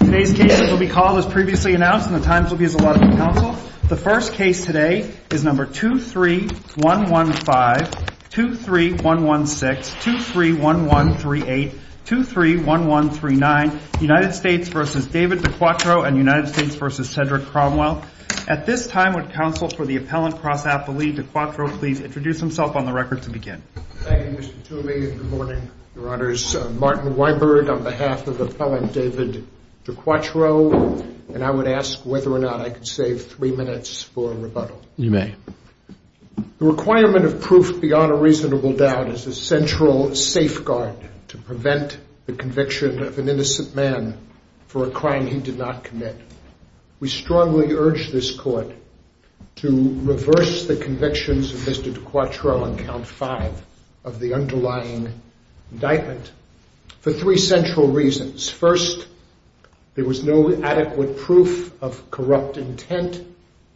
and United States v. Cedric Cromwell. At this time, would counsel for the Appellant Cross Appellee Dequattro please introduce himself on the record to begin? Thank you, Mr. Toomey, and good morning, your honors. I'm Martin Weinberg on behalf of Appellant David Dequattro. I'd like to begin by saying that I'm very pleased to be here today, and I'm very pleased to have the opportunity to speak on behalf of the Appellant Cross Appellee Dequattro. And I would ask whether or not I could save three minutes for rebuttal. You may. The requirement of proof beyond a reasonable doubt is a central safeguard to prevent the conviction of an innocent man for a crime he did not commit. We strongly urge this court to reverse the convictions of Mr. Dequattro on count five of the underlying indictment for three central reasons. First, there was no adequate proof of corrupt intent.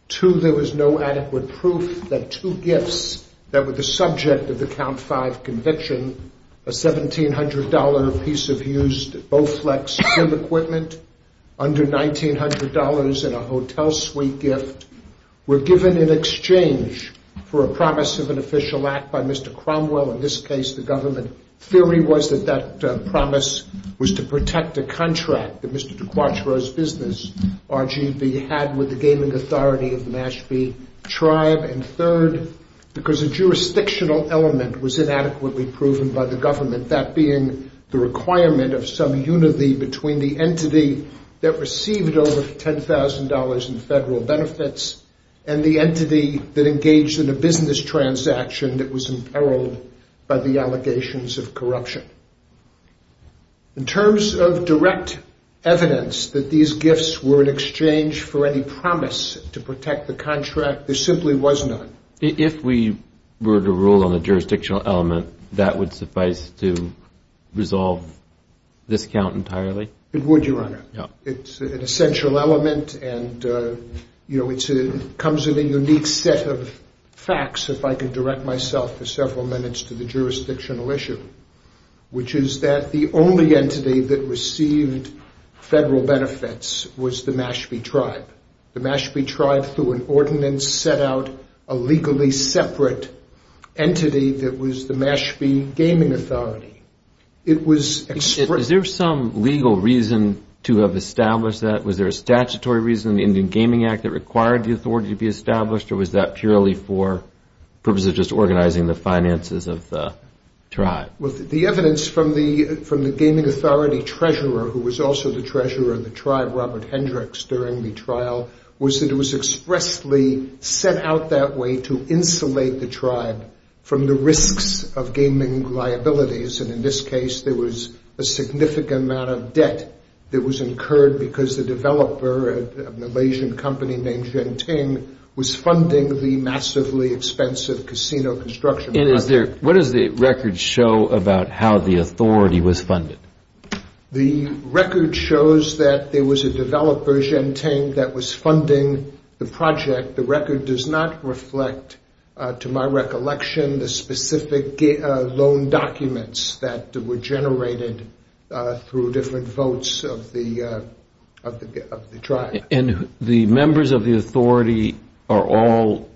Two, there was no adequate proof that two gifts that were the subject of the count five conviction, a $1,700 piece of used Bowflex gym equipment under $1,900 and a hotel suite gift, were given in exchange for a promise of an official act by Mr. Cromwell, in this case the government. Theory was that that promise was to protect a contract that Mr. Dequattro's business, RGV, had with the gaming authority of the Mashpee Tribe. And third, because a jurisdictional element was inadequately proven by the government, that being the requirement of some unity between the entity that received over $10,000 in federal benefits and the entity that engaged in a business transaction that was imperiled by the allegations of corruption. In terms of direct evidence that these gifts were in exchange for any promise to protect the contract, there simply was none. If we were to rule on a jurisdictional element, that would suffice to resolve this count entirely? It would, Your Honor. It's an essential element, and it comes with a unique set of facts, if I could direct myself for several minutes to the jurisdictional issue, which is that the only entity that received federal benefits was the Mashpee Tribe. The Mashpee Tribe, through an ordinance, set out a legally separate entity that was the Mashpee Gaming Authority. Is there some legal reason to have established that? Was there a statutory reason in the Indian Gaming Act that required the authority to be established, or was that purely for purposes of just organizing the finances of the tribe? Well, the evidence from the Gaming Authority treasurer, who was also the treasurer of the tribe, Robert Hendricks, during the trial, was that it was expressly set out that way to insulate the tribe from the risks of gaming liabilities. And in this case, there was a significant amount of debt that was incurred because the developer, a Malaysian company named Genting, was funding the massively expensive casino construction project. What does the record show about how the authority was funded? The record shows that there was a developer, Genting, that was funding the project. The record does not reflect, to my recollection, the specific loan documents that were generated through different votes of the tribe. And the members of the authority are all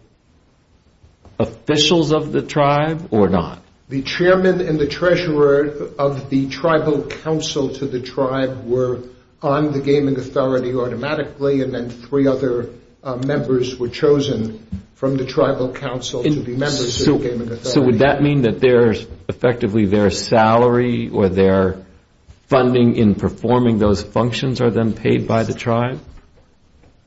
officials of the tribe or not? The chairman and the treasurer of the tribal council to the tribe were on the Gaming Authority automatically, and then three other members were chosen from the tribal council to be members of the Gaming Authority. So would that mean that effectively their salary or their funding in performing those functions are then paid by the tribe?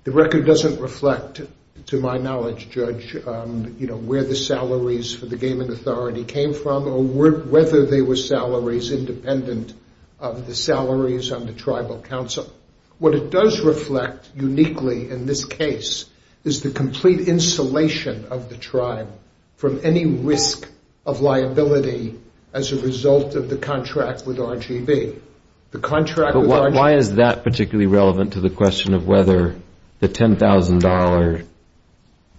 The record doesn't reflect, to my knowledge, Judge, where the salaries for the Gaming Authority came from or whether they were salaries independent of the salaries on the tribal council. What it does reflect uniquely in this case is the complete insulation of the tribe from any risk of liability as a result of the contract with RGV. But why is that particularly relevant to the question of whether the $10,000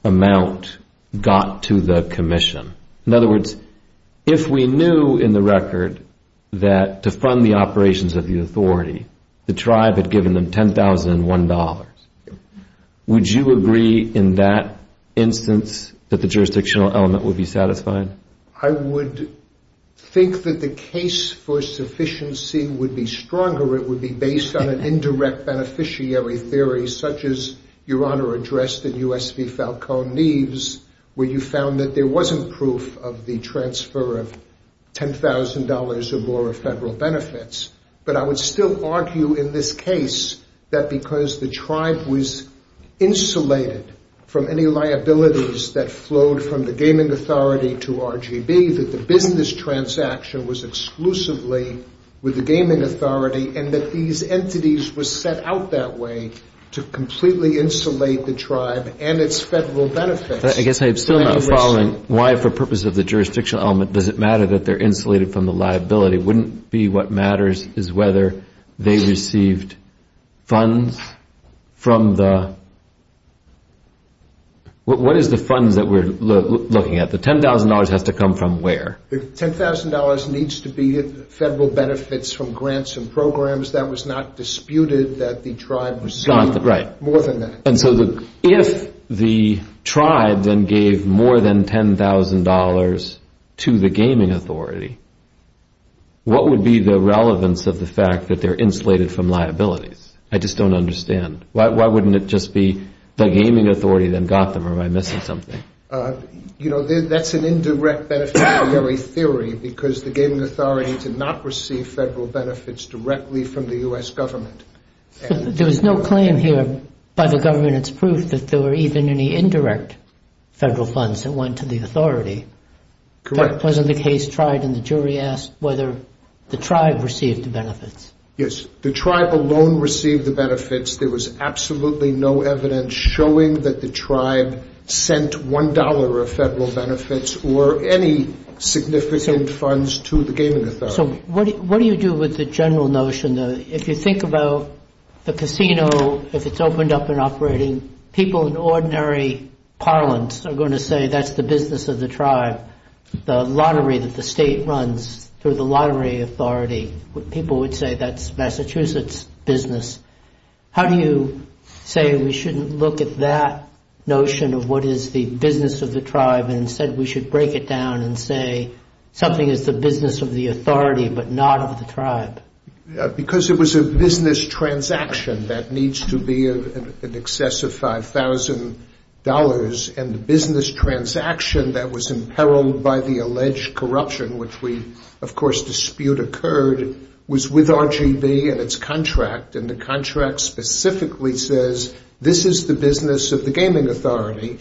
amount got to the commission? In other words, if we knew in the record that to fund the operations of the authority, the tribe had given them $10,001, would you agree in that instance that the jurisdictional element would be satisfied? I would think that the case for sufficiency would be stronger. It would be based on an indirect beneficiary theory such as Your Honor addressed in U.S. v. Falcone Neves, where you found that there wasn't proof of the transfer of $10,000 or more of federal benefits. But I would still argue in this case that because the tribe was insulated from any liabilities that flowed from the Gaming Authority to RGV, that the business transaction was exclusively with the Gaming Authority and that these entities were set out that way to completely insulate the tribe and its federal benefits. I guess I am still not following why for purposes of the jurisdictional element does it matter that they're insulated from the liability? Wouldn't be what matters is whether they received funds from the, what is the funds that we're looking at? The $10,000 has to come from where? The $10,000 needs to be federal benefits from grants and programs. That was not disputed that the tribe received more than that. And so if the tribe then gave more than $10,000 to the Gaming Authority, what would be the relevance of the fact that they're insulated from liabilities? I just don't understand. Why wouldn't it just be the Gaming Authority then got them or am I missing something? You know, that's an indirect beneficiary theory because the Gaming Authority did not receive federal benefits directly from the U.S. government. There was no claim here by the government. It's proof that there were even any indirect federal funds that went to the authority. Correct. That wasn't the case tried and the jury asked whether the tribe received the benefits. Yes. The tribe alone received the benefits. There was absolutely no evidence showing that the tribe sent $1 of federal benefits or any significant funds to the Gaming Authority. So what do you do with the general notion that if you think about the casino, if it's opened up and operating, people in ordinary parlance are going to say that's the business of the tribe. The lottery that the state runs through the lottery authority, people would say that's Massachusetts business. How do you say we shouldn't look at that notion of what is the business of the tribe and instead we should break it down and say something is the business of the authority but not of the tribe? Because it was a business transaction that needs to be in excess of $5,000 and the business transaction that was imperiled by the alleged corruption, which we of course dispute occurred, was with RGV and its contract and the contract specifically says this is the business of the Gaming Authority.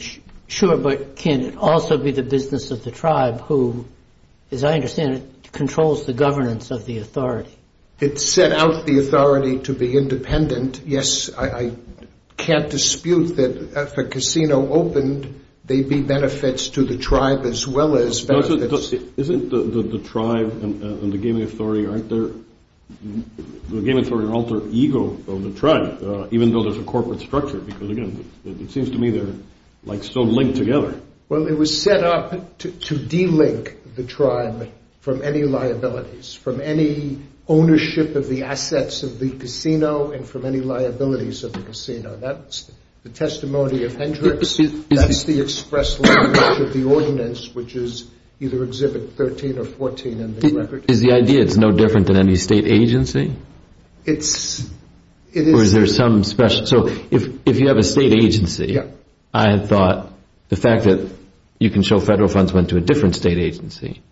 Sure, but can it also be the business of the tribe who, as I understand it, controls the governance of the authority? It set out the authority to be independent. Yes, I can't dispute that if a casino opened, there'd be benefits to the tribe as well as benefits. Isn't the tribe and the Gaming Authority alter ego of the tribe, even though there's a corporate structure? Because again, it seems to me they're like so linked together. Well, it was set up to de-link the tribe from any liabilities, from any ownership of the assets of the casino and from any liabilities of the casino. That's the testimony of Hendricks. That's the express language of the ordinance, which is either Exhibit 13 or 14 in the record. Is the idea it's no different than any state agency? It is. So if you have a state agency, I thought the fact that you can show federal funds went to a different state agency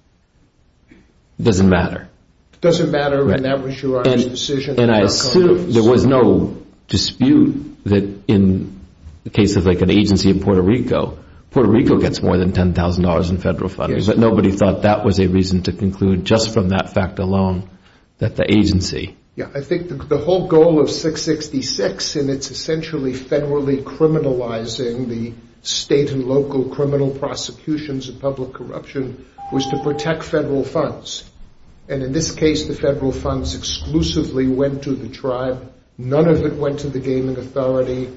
doesn't matter. It doesn't matter when that was your own decision. And I assume there was no dispute that in the case of like an agency in Puerto Rico, Puerto Rico gets more than $10,000 in federal funding, but nobody thought that was a reason to conclude just from that fact alone that the agency. Yeah, I think the whole goal of 666 in its essentially federally criminalizing the state and local criminal prosecutions and public corruption was to protect federal funds. And in this case, the federal funds exclusively went to the tribe. None of it went to the gaming authority.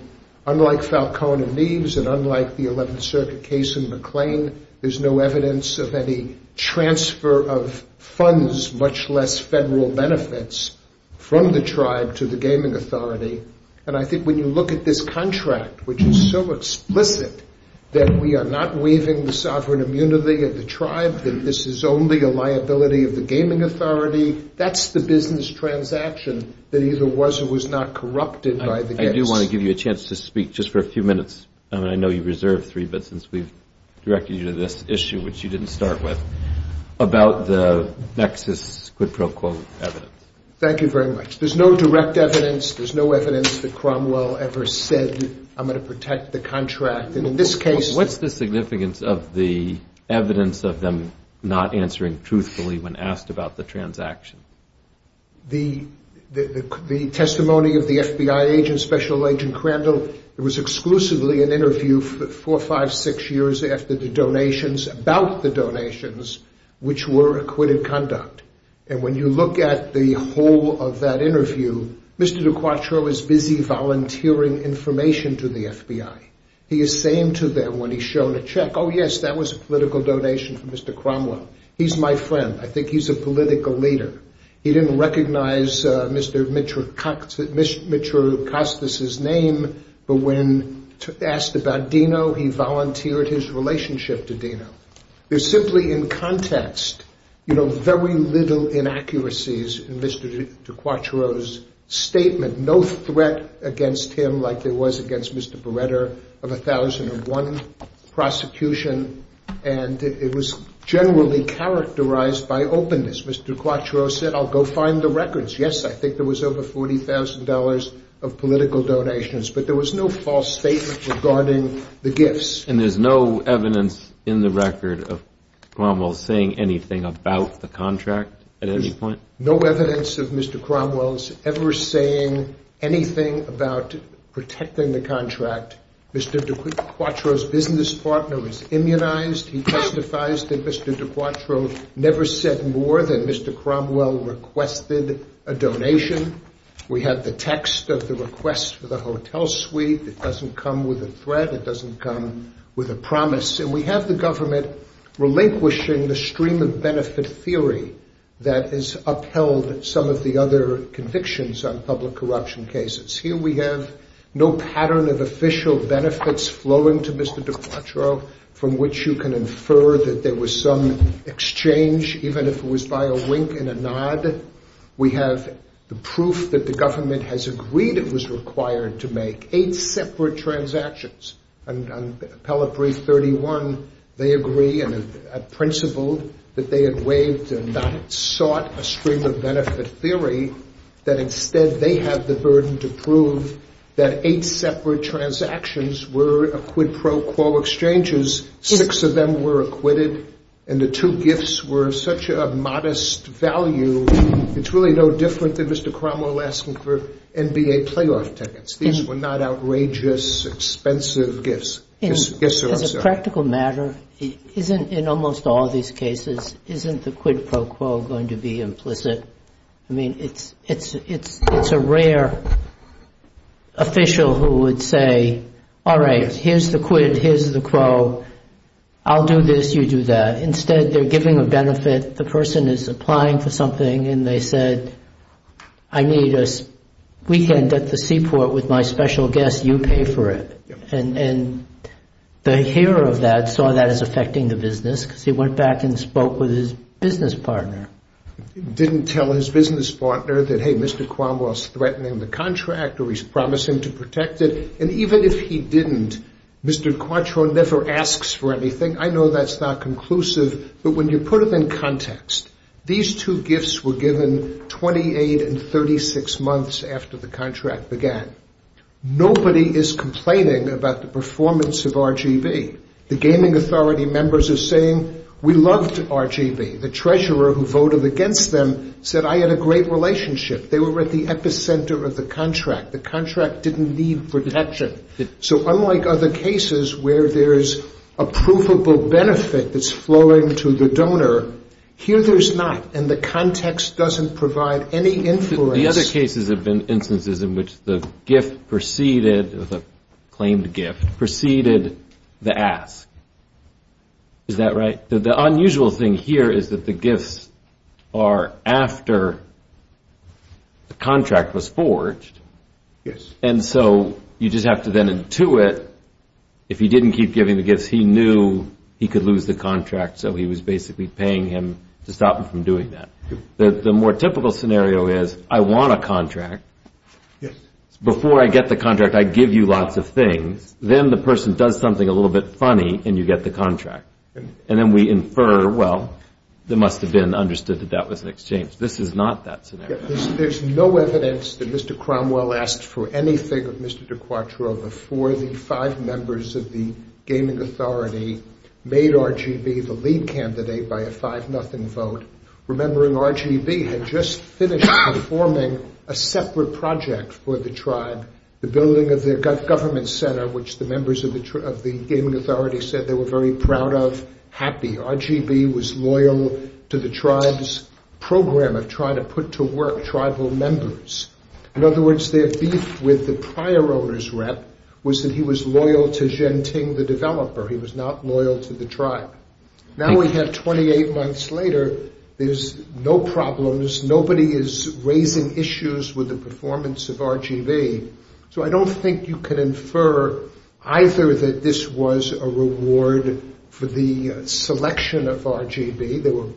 Unlike Falcone and Neves and unlike the 11th Circuit case in McLean, there's no evidence of any transfer of funds, much less federal benefits from the tribe to the gaming authority. And I think when you look at this contract, which is so explicit that we are not waiving the sovereign immunity of the tribe, that this is only a liability of the gaming authority. That's the business transaction that either was or was not corrupted. I do want to give you a chance to speak just for a few minutes. I mean, I know you reserved three, but since we've directed you to this issue, which you didn't start with about the nexus, quid pro quo evidence. Thank you very much. There's no direct evidence. There's no evidence that Cromwell ever said I'm going to protect the contract. What's the significance of the evidence of them not answering truthfully when asked about the transaction? The testimony of the FBI agent, Special Agent Crandall, it was exclusively an interview four, five, six years after the donations, about the donations, which were acquitted conduct. And when you look at the whole of that interview, Mr. Duquatro is busy volunteering information to the FBI. He is saying to them when he's shown a check, oh, yes, that was a political donation from Mr. Cromwell. He's my friend. I think he's a political leader. He didn't recognize Mr. Mitchell Cox, Mr. Mitchell Costas's name. But when asked about Dino, he volunteered his relationship to Dino. There's simply in context, you know, very little inaccuracies in Mr. Duquatro's statement. He had no threat against him like there was against Mr. Beretta of a thousand and one prosecution. And it was generally characterized by openness. Mr. Duquatro said, I'll go find the records. Yes, I think there was over forty thousand dollars of political donations. But there was no false statement regarding the gifts. And there's no evidence in the record of Cromwell saying anything about the contract at any point? No evidence of Mr. Cromwell's ever saying anything about protecting the contract. Mr. Duquatro's business partner is immunized. He testifies that Mr. Duquatro never said more than Mr. Cromwell requested a donation. We have the text of the request for the hotel suite. It doesn't come with a threat. It doesn't come with a promise. And we have the government relinquishing the stream of benefit theory that has upheld some of the other convictions on public corruption cases. Here we have no pattern of official benefits flowing to Mr. Duquatro from which you can infer that there was some exchange, even if it was by a wink and a nod. We have the proof that the government has agreed it was required to make eight separate transactions. On Appellate Brief 31, they agree and have principled that they had waived and not sought a stream of benefit theory, that instead they have the burden to prove that eight separate transactions were a quid pro quo exchanges. Six of them were acquitted and the two gifts were such a modest value. It's really no different than Mr. Cromwell asking for NBA playoff tickets. These were not outrageous, expensive gifts. As a practical matter, in almost all these cases, isn't the quid pro quo going to be implicit? I mean, it's a rare official who would say, all right, here's the quid, here's the quo. I'll do this, you do that. Instead, they're giving a benefit. The person is applying for something and they said, I need a weekend at the seaport with my special guest. You pay for it. And the hearer of that saw that as affecting the business because he went back and spoke with his business partner. Didn't tell his business partner that, hey, Mr. Cromwell's threatening the contract or he's promising to protect it. And even if he didn't, Mr. Quattro never asks for anything. I know that's not conclusive. But when you put it in context, these two gifts were given 28 and 36 months after the contract began. Nobody is complaining about the performance of RGV. The gaming authority members are saying we loved RGV. The treasurer who voted against them said I had a great relationship. They were at the epicenter of the contract. The contract didn't need protection. So unlike other cases where there's a provable benefit that's flowing to the donor, here there's not. And the context doesn't provide any influence. The other cases have been instances in which the gift preceded, claimed gift, preceded the ask. Is that right? The unusual thing here is that the gifts are after the contract was forged. And so you just have to then intuit if he didn't keep giving the gifts, he knew he could lose the contract. So he was basically paying him to stop him from doing that. The more typical scenario is I want a contract. Before I get the contract, I give you lots of things. Then the person does something a little bit funny and you get the contract. And then we infer, well, it must have been understood that that was an exchange. This is not that scenario. There's no evidence that Mr. Cromwell asked for anything of Mr. DiQuatro before the five members of the gaming authority made RGV the lead candidate by a 5-0 vote, remembering RGV had just finished performing a separate project for the tribe, the building of the government center, which the members of the gaming authority said they were very proud of, happy. RGV was loyal to the tribe's program of trying to put to work tribal members. In other words, their beef with the prior owner's rep was that he was loyal to Zhen Ting, the developer. He was not loyal to the tribe. Now we have 28 months later, there's no problems. Nobody is raising issues with the performance of RGV. So I don't think you can infer either that this was a reward for the selection of RGV. There were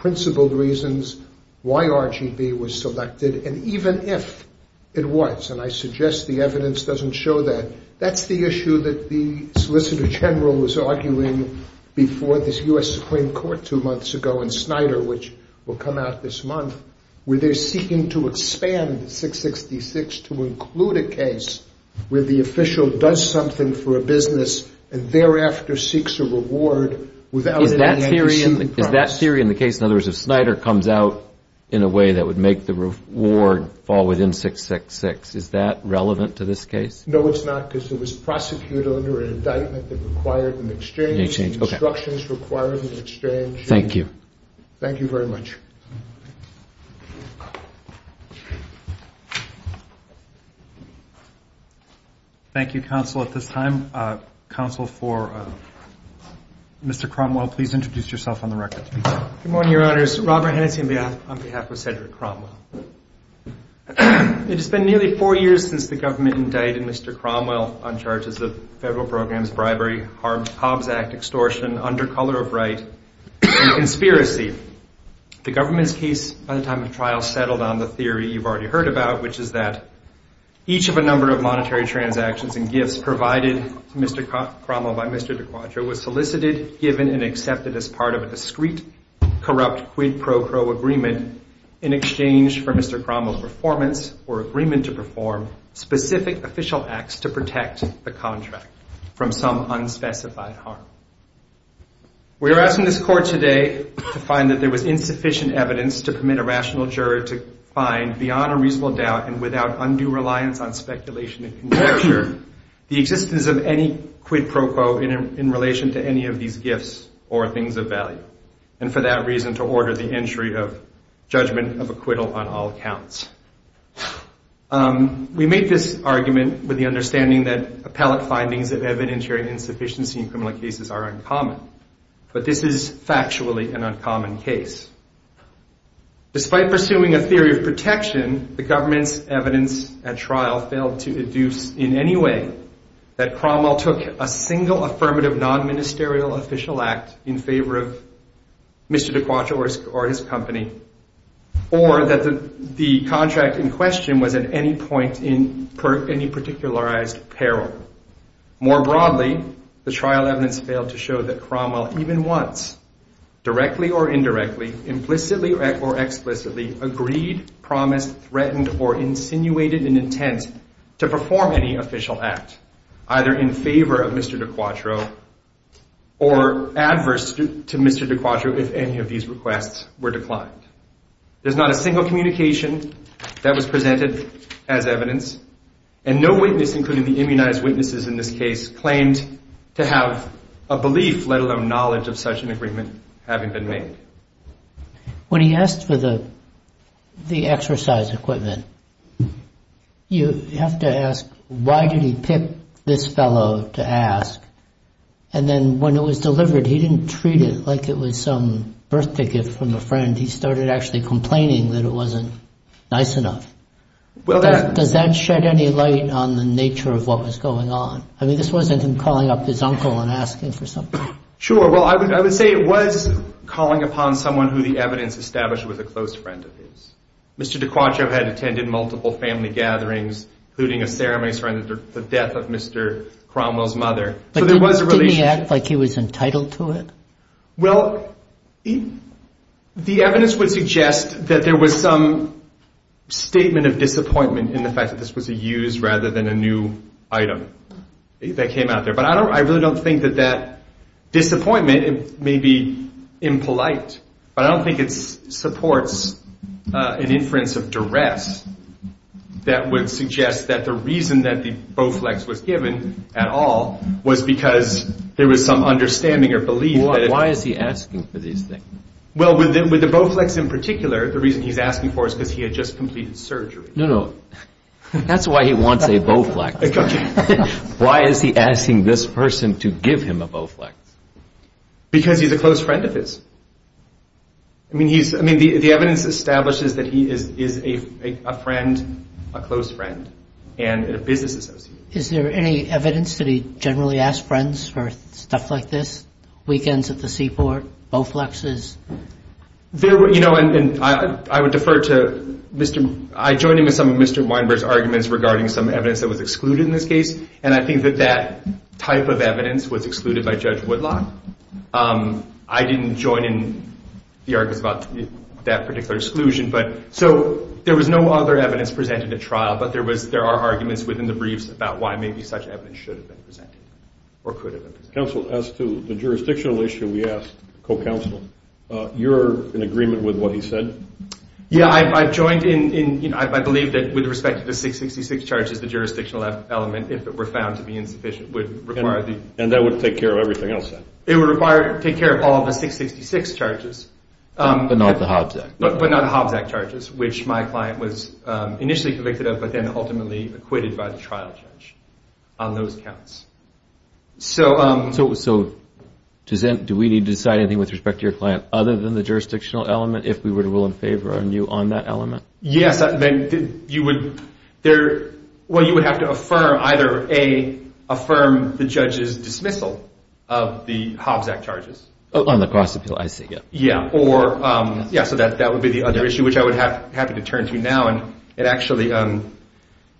principled reasons why RGV was selected. And even if it was, and I suggest the evidence doesn't show that, that's the issue that the Solicitor General was arguing before this U.S. Supreme Court two months ago and Snyder, which will come out this month, where they're seeking to expand 666 to include a case where the official does something for a business and thereafter seeks a reward without an antecedent promise. Is that theory in the case, in other words, if Snyder comes out in a way that would make the reward fall within 666, is that relevant to this case? No, it's not, because it was prosecuted under an indictment that required an exchange. Okay. Instructions required an exchange. Thank you. Thank you very much. Thank you, counsel, at this time. Counsel for Mr. Cromwell, please introduce yourself on the record. Good morning, Your Honors. Robert Hennessey on behalf of Cedric Cromwell. It has been nearly four years since the government indicted Mr. Cromwell on charges of federal programs, bribery, Hobbs Act extortion, under color of right, and conspiracy. The government's case by the time of trial settled on the theory you've already heard about, which is that each of a number of monetary transactions and gifts provided to Mr. Cromwell by Mr. DiQuadro was solicited, given, and accepted as part of a discreet, corrupt quid pro quo agreement in exchange for Mr. Cromwell's performance or agreement to perform specific official acts to protect the contract from some unspecified harm. We are asking this court today to find that there was insufficient evidence to permit a rational juror to find, beyond a reasonable doubt and without undue reliance on speculation and conjecture, the existence of any quid pro quo in relation to any of these gifts or things of value, and for that reason to order the entry of judgment of acquittal on all counts. We make this argument with the understanding that appellate findings of evidentiary insufficiency in criminal cases are uncommon, but this is factually an uncommon case. Despite pursuing a theory of protection, the government's evidence at trial failed to induce in any way that Cromwell took a single affirmative non-ministerial official act in favor of Mr. DiQuadro or his company, or that the contract in question was at any point in any particularized peril. More broadly, the trial evidence failed to show that Cromwell even once, directly or indirectly, implicitly or explicitly, agreed, promised, threatened, or insinuated an intent to perform any official act, either in favor of Mr. DiQuadro or adverse to Mr. DiQuadro if any of these requests were declined. There's not a single communication that was presented as evidence, and no witness, including the immunized witnesses in this case, claimed to have a belief, let alone knowledge, of such an agreement having been made. When he asked for the exercise equipment, you have to ask, why did he pick this fellow to ask? And then when it was delivered, he didn't treat it like it was some birth ticket from a friend. He started actually complaining that it wasn't nice enough. Does that shed any light on the nature of what was going on? I mean, this wasn't him calling up his uncle and asking for something. Sure. Well, I would say it was calling upon someone who the evidence established was a close friend of his. Mr. DiQuadro had attended multiple family gatherings, including a ceremony surrounding the death of Mr. Cromwell's mother. But didn't he act like he was entitled to it? Well, the evidence would suggest that there was some statement of disappointment in the fact that this was a use rather than a new item that came out there. But I really don't think that that disappointment may be impolite. But I don't think it supports an inference of duress that would suggest that the reason that the Bowflex was given at all was because there was some understanding or belief. Why is he asking for these things? Well, with the Bowflex in particular, the reason he's asking for is because he had just completed surgery. No, no. That's why he wants a Bowflex. Why is he asking this person to give him a Bowflex? Because he's a close friend of his. I mean, the evidence establishes that he is a friend, a close friend, and a business associate. Is there any evidence that he generally asked friends for stuff like this, weekends at the seaport, Bowflexes? You know, and I would defer to Mr. I joined him in some of Mr. Weinberg's arguments regarding some evidence that was excluded in this case. And I think that that type of evidence was excluded by Judge Woodlock. I didn't join in the arguments about that particular exclusion. So there was no other evidence presented at trial. But there are arguments within the briefs about why maybe such evidence should have been presented or could have been presented. Counsel, as to the jurisdictional issue we asked, co-counsel, you're in agreement with what he said? Yeah, I joined in. I believe that with respect to the 666 charges, the jurisdictional element, if it were found to be insufficient, would require the And that would take care of everything else then? It would take care of all the 666 charges. But not the Hobbs Act? But not the Hobbs Act charges, which my client was initially convicted of but then ultimately acquitted by the trial judge on those counts. So do we need to decide anything with respect to your client other than the jurisdictional element if we were to rule in favor on you on that element? Yes, you would have to affirm either A, affirm the judge's dismissal of the Hobbs Act charges. On the cross-appeal, I see. Yeah, so that would be the other issue, which I would be happy to turn to now. It actually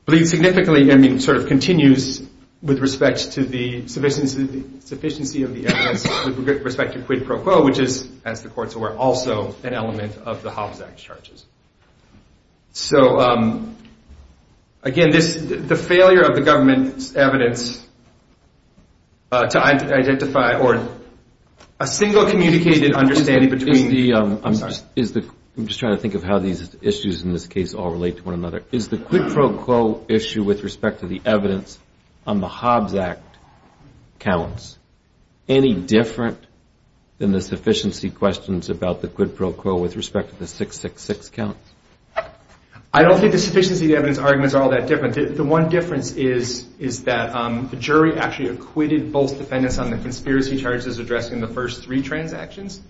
bleeds significantly and sort of continues with respect to the sufficiency of the evidence with respect to quid pro quo, which is, as the courts are aware, also an element of the Hobbs Act charges. So, again, the failure of the government's evidence to identify or a single communicated understanding between... I'm just trying to think of how these issues in this case all relate to one another. Is the quid pro quo issue with respect to the evidence on the Hobbs Act counts any different than the sufficiency questions about the quid pro quo with respect to the 666 counts? I don't think the sufficiency of the evidence arguments are all that different. The one difference is that the jury actually acquitted both defendants on the conspiracy charges addressing the first three transactions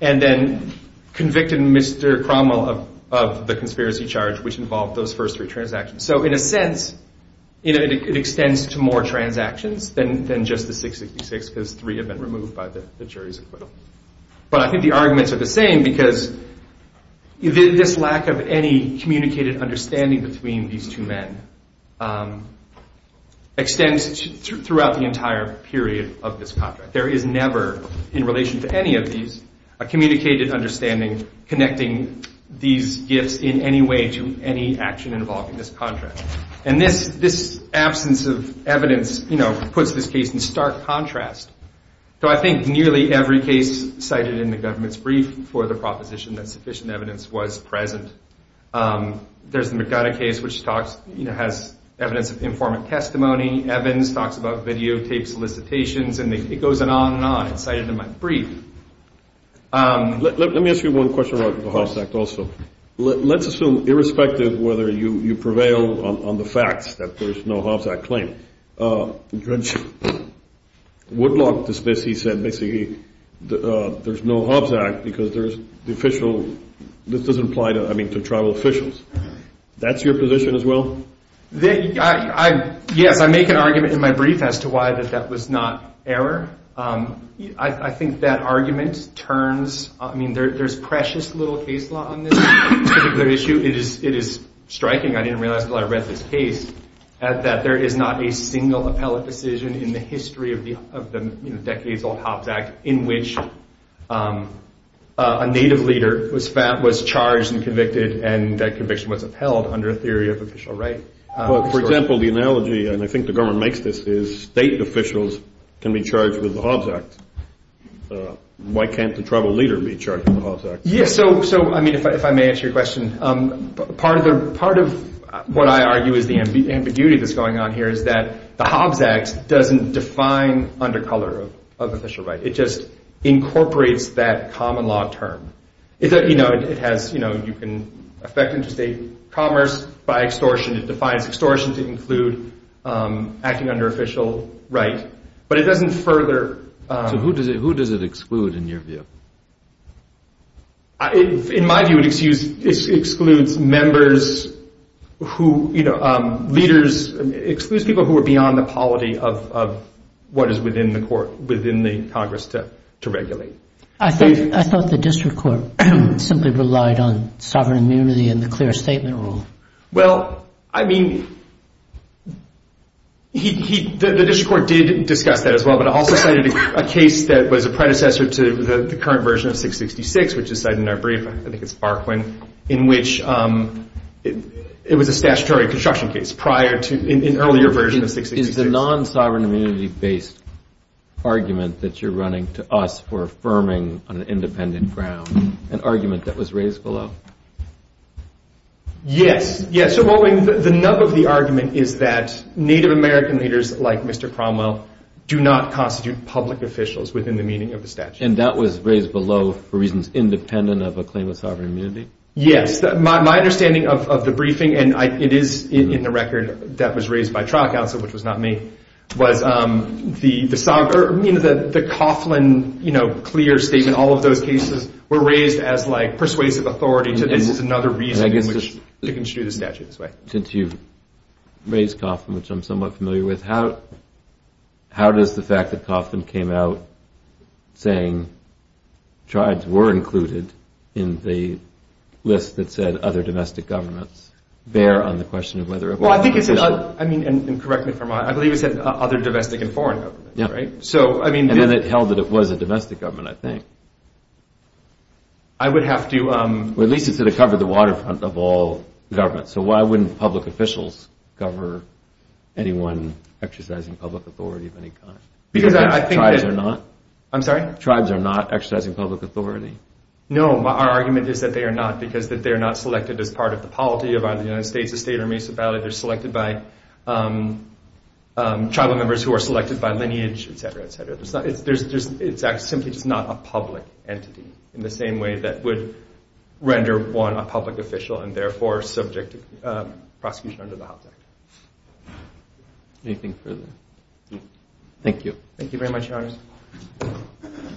and then convicted Mr. Cromwell of the conspiracy charge, which involved those first three transactions. So, in a sense, it extends to more transactions than just the 666 because three have been removed by the jury's acquittal. But I think the arguments are the same because this lack of any communicated understanding between these two men extends throughout the entire period of this contract. There is never, in relation to any of these, a communicated understanding connecting these gifts in any way to any action involved in this contract. And this absence of evidence puts this case in stark contrast. So I think nearly every case cited in the government's brief for the proposition that sufficient evidence was present. There's the McDonough case, which has evidence of informant testimony. Evans talks about videotaped solicitations, and it goes on and on. It's cited in my brief. Let me ask you one question about the Hobbs Act also. Let's assume, irrespective of whether you prevail on the facts, that there's no Hobbs Act claim. Judge Woodlock, he said basically there's no Hobbs Act because this doesn't apply to tribal officials. That's your position as well? Yes, I make an argument in my brief as to why that that was not error. I think that argument turns—I mean, there's precious little case law on this particular issue. It is striking—I didn't realize until I read this case—that there is not a single appellate decision in the history of the decades-old Hobbs Act in which a native leader was charged and convicted and that conviction was upheld under a theory of official right. Well, for example, the analogy—and I think the government makes this—is state officials can be charged with the Hobbs Act. Why can't the tribal leader be charged with the Hobbs Act? Yes, so, I mean, if I may answer your question, part of what I argue is the ambiguity that's going on here is that the Hobbs Act doesn't define undercolor of official right. It just incorporates that common law term. It has—you can affect interstate commerce by extortion. It defines extortion to include acting under official right, but it doesn't further— So who does it exclude, in your view? In my view, it excludes members who—leaders—it excludes people who are beyond the polity of what is within the court—within the Congress to regulate. I thought the district court simply relied on sovereign immunity and the clear statement rule. Well, I mean, the district court did discuss that as well, but it also cited a case that was a predecessor to the current version of 666, which is cited in our brief—I think it's Farquhar—in which it was a statutory construction case prior to an earlier version of 666. Is the non-sovereign immunity-based argument that you're running to us for affirming on an independent ground an argument that was raised below? Yes, yes. The nub of the argument is that Native American leaders like Mr. Cromwell do not constitute public officials within the meaning of the statute. And that was raised below for reasons independent of a claim of sovereign immunity? Yes. My understanding of the briefing—and it is in the record that was raised by trial counsel, which was not me— I mean, the Coughlin clear statement, all of those cases were raised as persuasive authority to this is another reason to construe the statute this way. Since you've raised Coughlin, which I'm somewhat familiar with, how does the fact that Coughlin came out saying tribes were included in the list that said other domestic governments bear on the question of whether— Well, I think it said—and correct me if I'm wrong—I believe it said other domestic and foreign governments, right? And then it held that it was a domestic government, I think. I would have to— Well, at least it sort of covered the waterfront of all governments. So why wouldn't public officials cover anyone exercising public authority of any kind? Because I think that— Because tribes are not? I'm sorry? Tribes are not exercising public authority? No, our argument is that they are not because that they are not selected as part of the polity of either the United States, the state, or Mesa Valley. They're selected by tribal members who are selected by lineage, et cetera, et cetera. It's simply just not a public entity in the same way that would render one a public official and therefore subject to prosecution under the Hobbs Act. Anything further? Thank you. Thank you very much, Your Honors.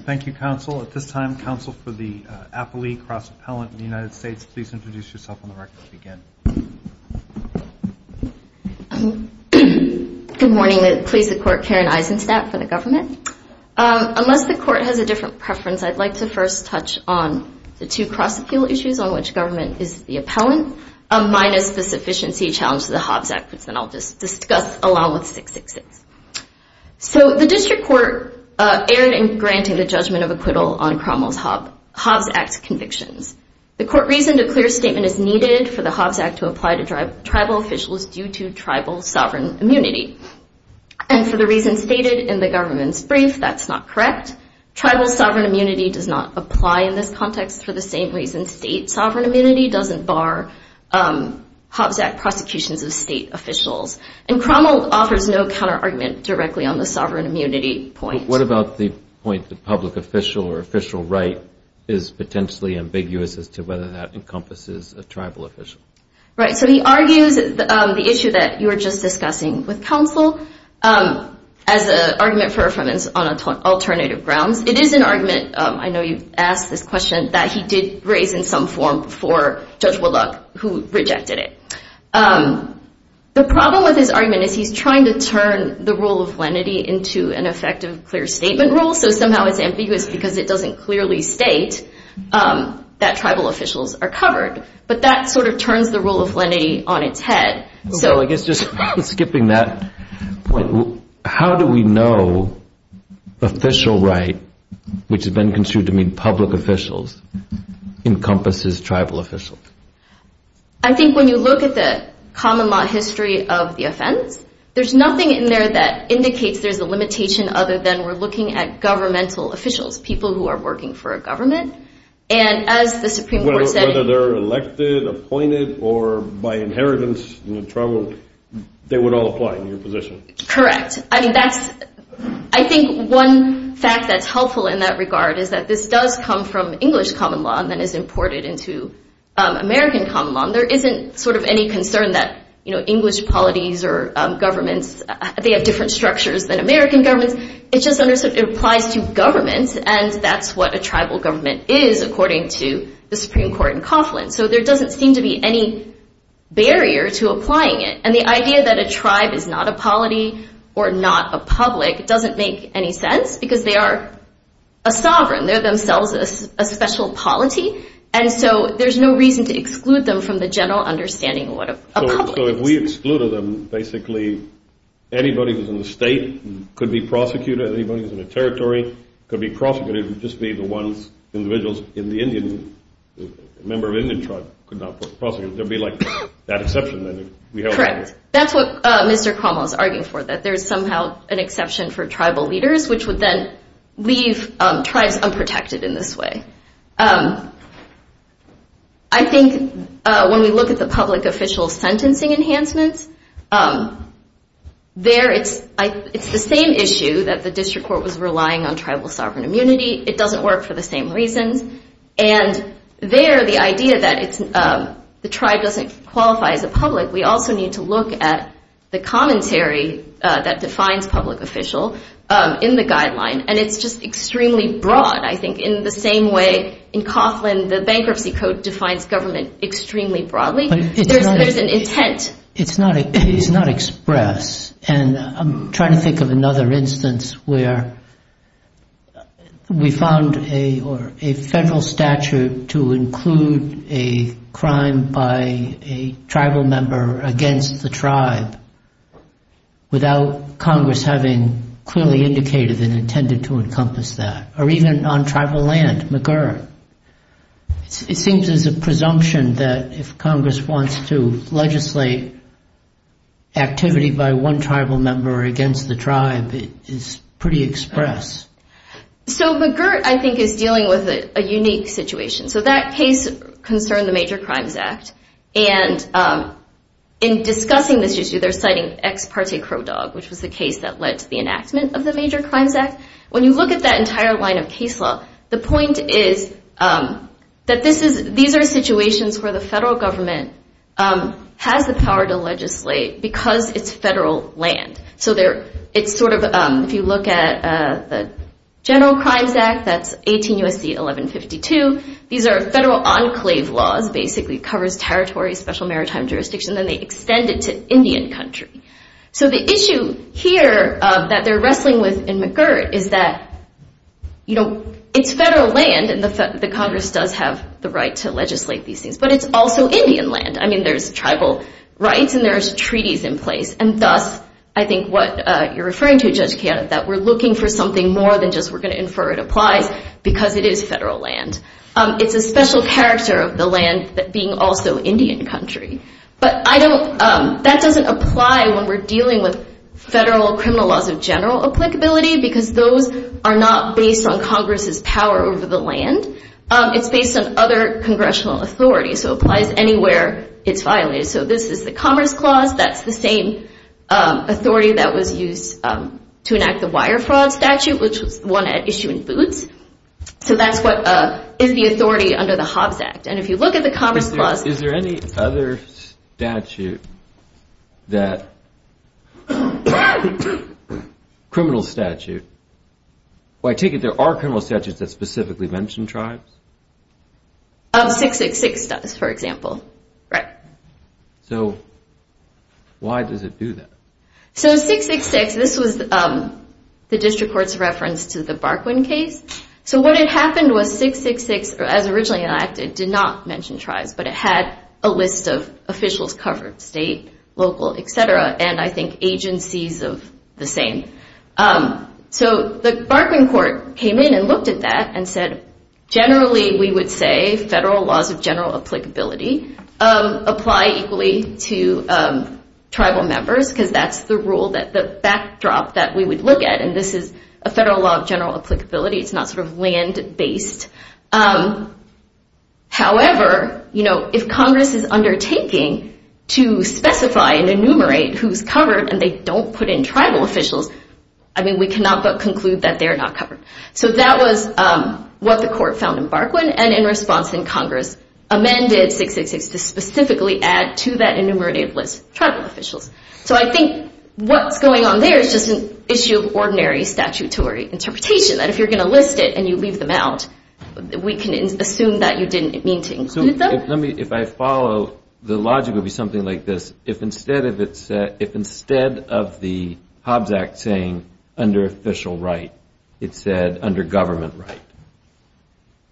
Thank you, counsel. At this time, counsel for the appellee cross-appellant in the United States, please introduce yourself on the record to begin. Good morning. Please support Karen Eisenstadt for the government. Unless the court has a different preference, I'd like to first touch on the two cross-appeal issues on which government is the appellant, minus the sufficiency challenge to the Hobbs Act, which then I'll just discuss along with 666. So the district court erred in granting the judgment of acquittal on Cromwell's Hobbs Act convictions. The court reasoned a clear statement is needed for the Hobbs Act to apply to tribal officials due to tribal sovereign immunity. And for the reasons stated in the government's brief, that's not correct. Tribal sovereign immunity does not apply in this context for the same reason state sovereign immunity doesn't bar Hobbs Act prosecutions of state officials. And Cromwell offers no counter-argument directly on the sovereign immunity point. What about the point that public official or official right is potentially ambiguous as to whether that encompasses a tribal official? Right. So he argues the issue that you were just discussing with counsel as an argument for affirmance on alternative grounds. It is an argument, I know you've asked this question, that he did raise in some form before Judge Willock, who rejected it. The problem with his argument is he's trying to turn the rule of lenity into an effective clear statement rule. So somehow it's ambiguous because it doesn't clearly state that tribal officials are covered. But that sort of turns the rule of lenity on its head. So I guess just skipping that point, how do we know official right, which has been construed to mean public officials, encompasses tribal officials? I think when you look at the common law history of the offense, there's nothing in there that indicates there's a limitation other than we're looking at governmental officials, people who are working for a government. And as the Supreme Court said- Whether they're elected, appointed, or by inheritance, tribal, they would all apply in your position. Correct. I think one fact that's helpful in that regard is that this does come from English common law and then is imported into American common law. There isn't sort of any concern that English polities or governments, they have different structures than American governments. It just applies to governments, and that's what a tribal government is, according to the Supreme Court in Coughlin. So there doesn't seem to be any barrier to applying it. And the idea that a tribe is not a polity or not a public doesn't make any sense, because they are a sovereign. They're themselves a special polity, and so there's no reason to exclude them from the general understanding of what a public is. So if we excluded them, basically anybody who's in the state could be prosecuted, anybody who's in a territory could be prosecuted, it would just be the ones, individuals in the Indian, member of Indian tribe could not be prosecuted. There'd be like that exception. Correct. That's what Mr. Cuomo is arguing for, that there's somehow an exception for tribal leaders, which would then leave tribes unprotected in this way. I think when we look at the public official sentencing enhancements, there it's the same issue that the district court was relying on tribal sovereign immunity. It doesn't work for the same reasons, and there the idea that the tribe doesn't qualify as a public, we also need to look at the commentary that defines public official in the guideline, and it's just extremely broad. I think in the same way in Coughlin the bankruptcy code defines government extremely broadly. There's an intent. It's not expressed, and I'm trying to think of another instance where we found a federal statute to include a crime by a tribal member against the tribe without Congress having clearly indicated and intended to encompass that, or even on tribal land, McGurn. It seems there's a presumption that if Congress wants to legislate activity by one tribal member against the tribe, it's pretty express. So McGurn, I think, is dealing with a unique situation. So that case concerned the Major Crimes Act, and in discussing this issue, they're citing ex parte Crow Dog, which was the case that led to the enactment of the Major Crimes Act. When you look at that entire line of case law, the point is that these are situations where the federal government has the power to legislate because it's federal land. So it's sort of, if you look at the General Crimes Act, that's 18 U.S.C. 1152. These are federal enclave laws. Basically it covers territory, special maritime jurisdiction, and then they extend it to Indian country. So the issue here that they're wrestling with in McGurn is that, you know, it's federal land, and the Congress does have the right to legislate these things, but it's also Indian land. I mean, there's tribal rights and there's treaties in place, and thus, I think what you're referring to, Judge Kean, that we're looking for something more than just we're going to infer it applies because it is federal land. It's a special character of the land that being also Indian country. But that doesn't apply when we're dealing with federal criminal laws of general applicability because those are not based on Congress's power over the land. It's based on other congressional authority. So it applies anywhere it's violated. So this is the Commerce Clause. That's the same authority that was used to enact the Wire Fraud Statute, which was the one at issue in Boots. So that's what is the authority under the Hobbs Act. And if you look at the Commerce Clause... Is there any other statute that, criminal statute, where I take it there are criminal statutes that specifically mention tribes? 666 does, for example. Right. So why does it do that? So 666, this was the District Court's reference to the Barquin case. So what had happened was 666, as originally enacted, did not mention tribes, but it had a list of officials covered, state, local, et cetera, and I think agencies of the same. So the Barquin Court came in and looked at that and said, generally we would say federal laws of general applicability apply equally to tribal members because that's the rule, the backdrop that we would look at. And this is a federal law of general applicability. It's not sort of land-based. However, if Congress is undertaking to specify and enumerate who's covered and they don't put in tribal officials, I mean, we cannot but conclude that they're not covered. So that was what the Court found in Barquin, and in response Congress amended 666 to specifically add to that enumerated list tribal officials. So I think what's going on there is just an issue of ordinary statutory interpretation, that if you're going to list it and you leave them out, we can assume that you didn't mean to include them. If I follow, the logic would be something like this. If instead of the Hobbs Act saying under official right, it said under government right,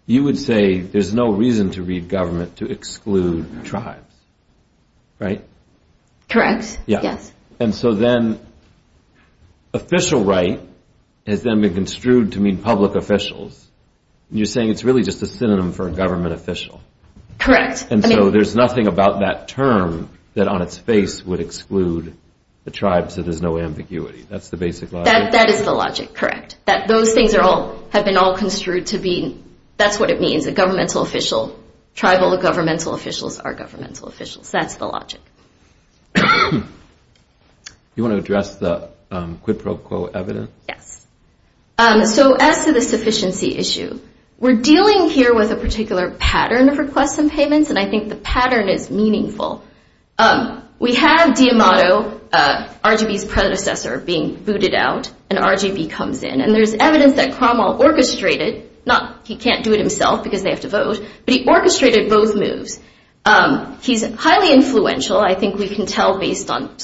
you would say there's no reason to read government to exclude tribes, right? Correct, yes. And so then official right has then been construed to mean public officials, and you're saying it's really just a synonym for a government official. Correct. And so there's nothing about that term that on its face would exclude the tribes, so there's no ambiguity. That's the basic logic? That is the logic, correct. Those things have been all construed to be, that's what it means, a governmental official, tribal governmental officials are governmental officials. That's the logic. You want to address the quid pro quo evidence? Yes. So as to the sufficiency issue, we're dealing here with a particular pattern of requests and payments, and I think the pattern is meaningful. We have D'Amato, RGB's predecessor, being booted out, and RGB comes in, and there's evidence that Cromwell orchestrated, not he can't do it himself because they have to vote, but he orchestrated both moves. He's highly influential. I think we can tell based on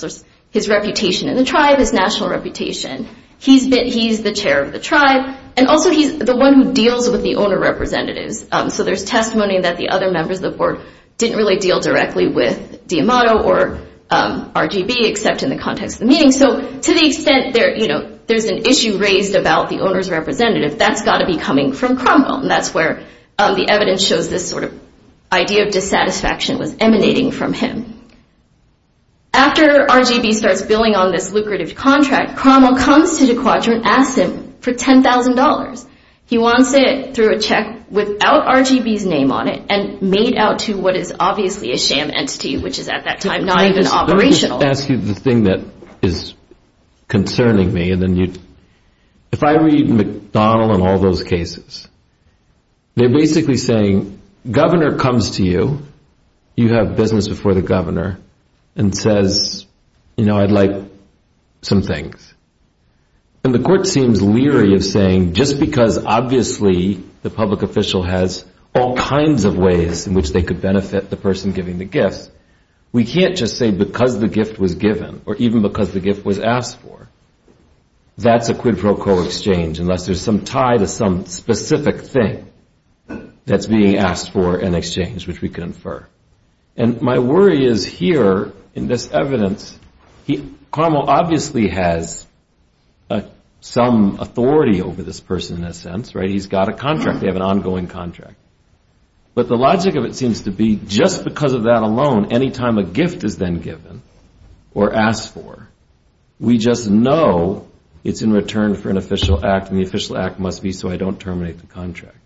his reputation in the tribe, his national reputation. He's the chair of the tribe, and also he's the one who deals with the owner representatives, so there's testimony that the other members of the board didn't really deal directly with D'Amato or RGB except in the context of the meeting. So to the extent there's an issue raised about the owner's representative, that's got to be coming from Cromwell, and that's where the evidence shows this sort of idea of dissatisfaction was emanating from him. After RGB starts billing on this lucrative contract, Cromwell comes to the quadrant, asks him for $10,000. He wants it through a check without RGB's name on it and made out to what is obviously a sham entity, which is at that time not even operational. Let me ask you the thing that is concerning me. If I read McDonald and all those cases, they're basically saying governor comes to you, you have business before the governor, and says, you know, I'd like some things. And the court seems leery of saying just because obviously the public official has all kinds of ways in which they could benefit the person giving the gifts, we can't just say because the gift was given or even because the gift was asked for. That's a quid pro quo exchange unless there's some tie to some specific thing that's being asked for in exchange, which we can infer. And my worry is here in this evidence, Cromwell obviously has some authority over this person in a sense. He's got a contract. They have an ongoing contract. But the logic of it seems to be just because of that alone, any time a gift is then given or asked for, we just know it's in return for an official act and the official act must be so I don't terminate the contract.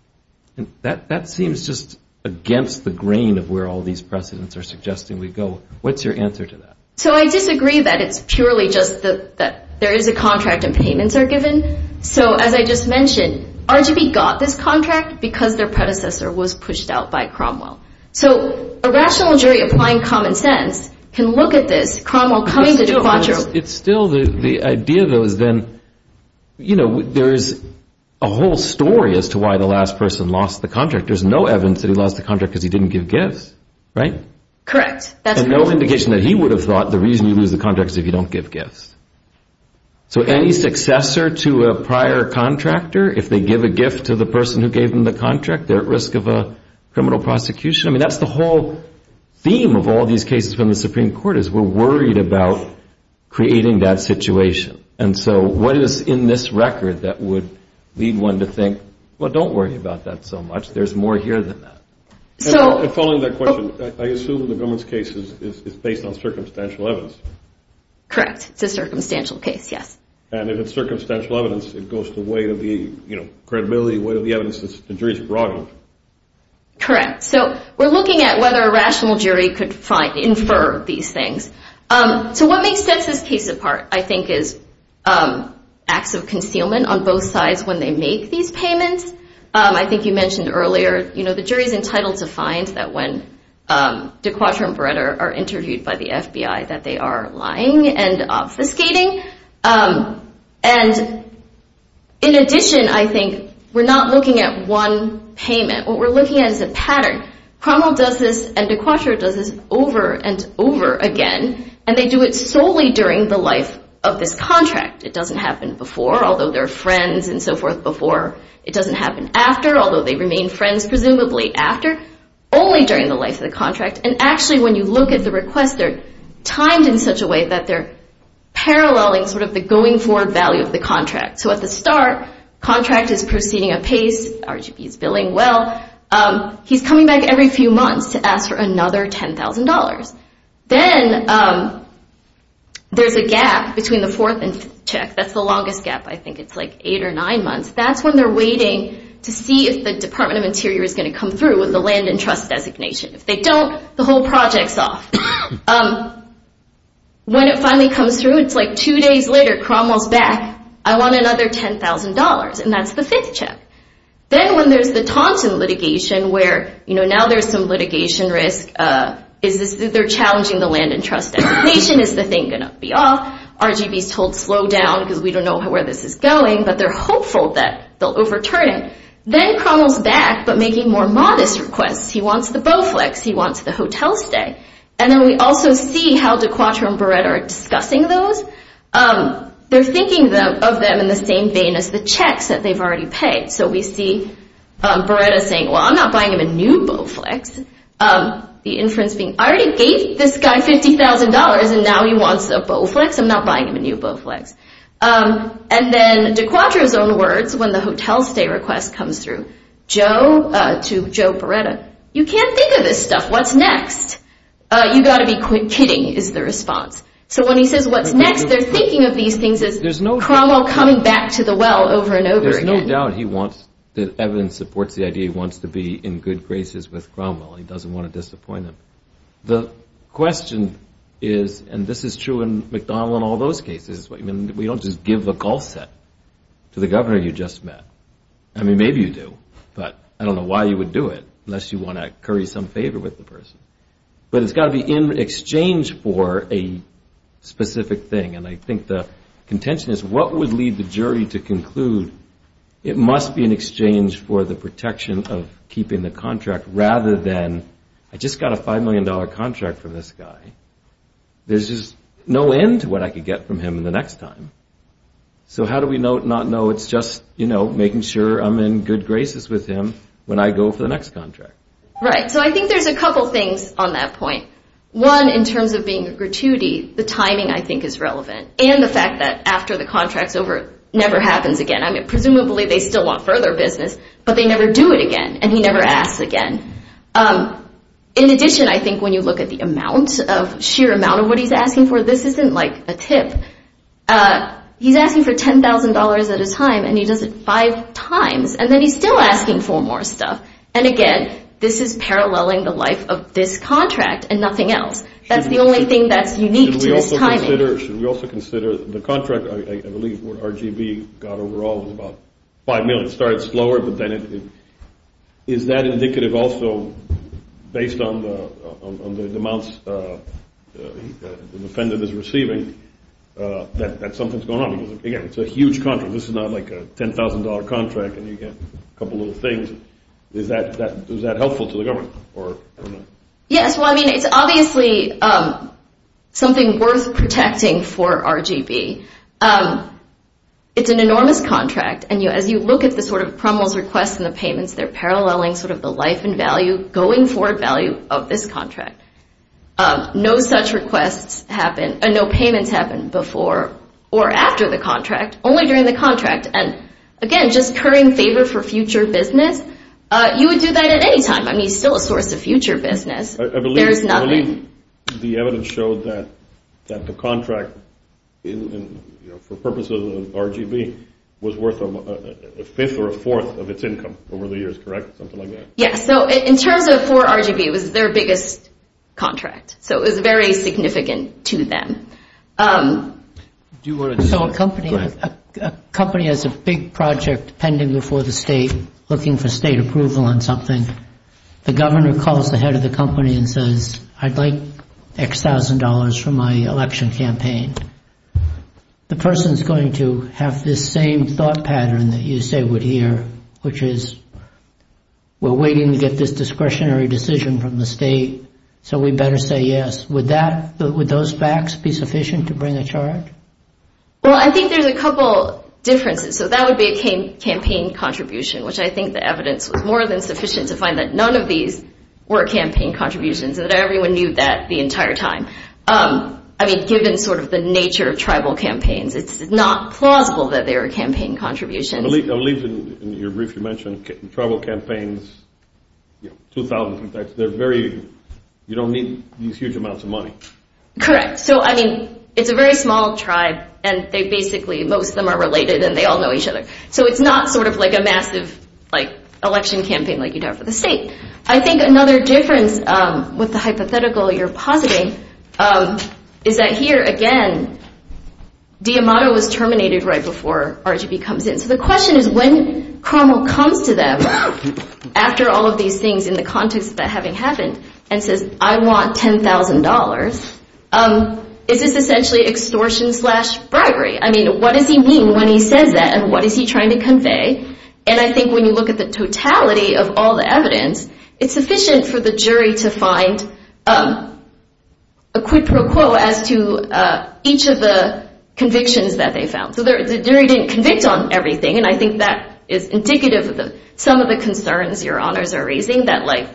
And that seems just against the grain of where all these precedents are suggesting we go. What's your answer to that? So I disagree that it's purely just that there is a contract and payments are given. So as I just mentioned, RGV got this contract because their predecessor was pushed out by Cromwell. So a rational jury applying common sense can look at this, Cromwell coming to De Quatro. It's still the idea though is then, you know, there is a whole story as to why the last person lost the contract. There's no evidence that he lost the contract because he didn't give gifts, right? Correct. And no indication that he would have thought the reason you lose the contract is if you don't give gifts. So any successor to a prior contractor, if they give a gift to the person who gave them the contract, they're at risk of a criminal prosecution. I mean, that's the whole theme of all these cases from the Supreme Court is we're worried about creating that situation. And so what is in this record that would lead one to think, well, don't worry about that so much. There's more here than that. And following that question, I assume the government's case is based on circumstantial evidence. Correct. It's a circumstantial case, yes. And if it's circumstantial evidence, it goes to the weight of the, you know, credibility, weight of the evidence the jury's brought in. Correct. So we're looking at whether a rational jury could infer these things. So what makes this case apart, I think, is acts of concealment on both sides when they make these payments. I think you mentioned earlier, you know, the jury's entitled to find that when De Quatro are lying and obfuscating. And in addition, I think we're not looking at one payment. What we're looking at is a pattern. Cromwell does this and De Quatro does this over and over again, and they do it solely during the life of this contract. It doesn't happen before, although they're friends and so forth before. It doesn't happen after, although they remain friends presumably after, only during the life of the contract. And actually, when you look at the request, they're timed in such a way that they're paralleling sort of the going forward value of the contract. So at the start, contract is proceeding apace. RGB is billing well. He's coming back every few months to ask for another $10,000. Then there's a gap between the fourth and fifth check. That's the longest gap. I think it's like eight or nine months. That's when they're waiting to see if the Department of Interior is going to come through with the land and trust designation. If they don't, the whole project's off. When it finally comes through, it's like two days later, Cromwell's back. I want another $10,000, and that's the fifth check. Then when there's the Thompson litigation where, you know, now there's some litigation risk, they're challenging the land and trust designation. Is the thing going to be off? RGB's told slow down because we don't know where this is going, but they're hopeful that they'll overturn it. Then Cromwell's back but making more modest requests. He wants the Bowflex. He wants the hotel stay. Then we also see how DeQuatro and Beretta are discussing those. They're thinking of them in the same vein as the checks that they've already paid. We see Beretta saying, well, I'm not buying him a new Bowflex. The inference being, I already gave this guy $50,000, and now he wants a Bowflex? I'm not buying him a new Bowflex. And then DeQuatro's own words when the hotel stay request comes through to Joe Beretta, you can't think of this stuff. What's next? You've got to be kidding, is the response. So when he says what's next, they're thinking of these things as Cromwell coming back to the well over and over again. There's no doubt that evidence supports the idea he wants to be in good graces with Cromwell. He doesn't want to disappoint him. The question is, and this is true in McDonald and all those cases, we don't just give the call set to the governor you just met. I mean, maybe you do, but I don't know why you would do it unless you want to curry some favor with the person. But it's got to be in exchange for a specific thing, and I think the contention is what would lead the jury to conclude it must be in exchange for the protection of keeping the contract rather than I just got a $5 million contract from this guy. There's just no end to what I could get from him the next time. So how do we not know it's just making sure I'm in good graces with him when I go for the next contract? Right, so I think there's a couple things on that point. One, in terms of being gratuity, the timing I think is relevant, and the fact that after the contract's over, it never happens again. I mean, presumably they still want further business, but they never do it again, and he never asks again. In addition, I think when you look at the sheer amount of what he's asking for, this isn't like a tip. He's asking for $10,000 at a time, and he does it five times, and then he's still asking for more stuff. And again, this is paralleling the life of this contract and nothing else. That's the only thing that's unique to this timing. Should we also consider the contract? I believe what RGB got overall was about $5 million. It started slower, but then it – is that indicative also, based on the amounts the defendant is receiving, that something's going on? Because again, it's a huge contract. This is not like a $10,000 contract, and you get a couple little things. Is that helpful to the government or not? Yes, well, I mean, it's obviously something worth protecting for RGB. It's an enormous contract, and as you look at the sort of promos, requests, and the payments, they're paralleling sort of the life and value, going forward value of this contract. No such requests happen, and no payments happen before or after the contract, only during the contract. And again, just currying favor for future business, you would do that at any time. I mean, it's still a source of future business. There's nothing. I believe the evidence showed that the contract, for purposes of RGB, was worth a fifth or a fourth of its income over the years, correct, something like that? Yes. So in terms of for RGB, it was their biggest contract, so it was very significant to them. So a company has a big project pending before the state, looking for state approval on something. The governor calls the head of the company and says, I'd like X thousand dollars for my election campaign. The person's going to have this same thought pattern that you say would hear, which is we're waiting to get this discretionary decision from the state, so we better say yes. Would those facts be sufficient to bring a charge? Well, I think there's a couple differences. So that would be a campaign contribution, which I think the evidence was more than sufficient to find that none of these were campaign contributions, and that everyone knew that the entire time. I mean, given sort of the nature of tribal campaigns, it's not plausible that they were campaign contributions. I believe in your brief you mentioned tribal campaigns, 2,000 contacts. They're very, you don't need these huge amounts of money. Correct. So, I mean, it's a very small tribe, and they basically, most of them are related, and they all know each other. So it's not sort of like a massive election campaign like you'd have for the state. I think another difference with the hypothetical you're positing is that here, again, D'Amato was terminated right before RGB comes in. So the question is when Carmel comes to them after all of these things in the context of that having happened and says, I want $10,000, is this essentially extortion slash bribery? I mean, what does he mean when he says that, and what is he trying to convey? And I think when you look at the totality of all the evidence, it's sufficient for the jury to find a quid pro quo as to each of the convictions that they found. So the jury didn't convict on everything, and I think that is indicative of some of the concerns your honors are raising, that like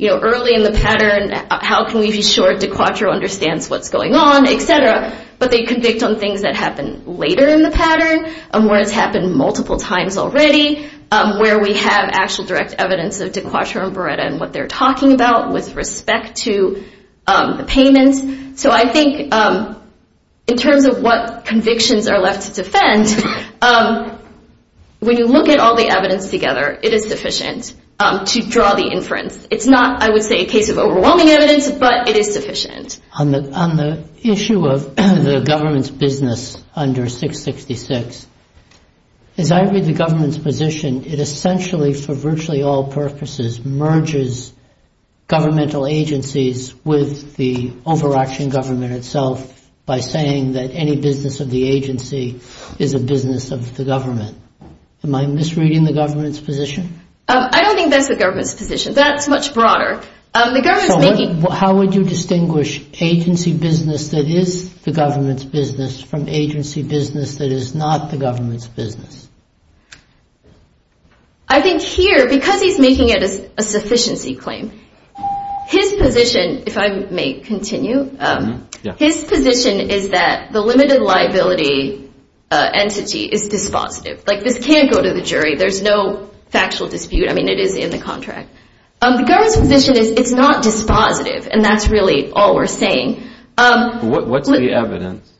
early in the pattern, how can we be sure De Quatro understands what's going on, et cetera, but they convict on things that happen later in the pattern, where it's happened multiple times already, where we have actual direct evidence of De Quatro and Beretta and what they're talking about with respect to the payments. So I think in terms of what convictions are left to defend, when you look at all the evidence together, it is sufficient to draw the inference. It's not, I would say, a case of overwhelming evidence, but it is sufficient. On the issue of the government's business under 666, as I read the government's position, it essentially for virtually all purposes merges governmental agencies with the overarching government itself by saying that any business of the agency is a business of the government. Am I misreading the government's position? I don't think that's the government's position. That's much broader. How would you distinguish agency business that is the government's business from agency business that is not the government's business? I think here, because he's making it a sufficiency claim, his position, if I may continue, his position is that the limited liability entity is dispositive. Like, this can't go to the jury. There's no factual dispute. I mean, it is in the contract. The government's position is it's not dispositive, and that's really all we're saying. What's the evidence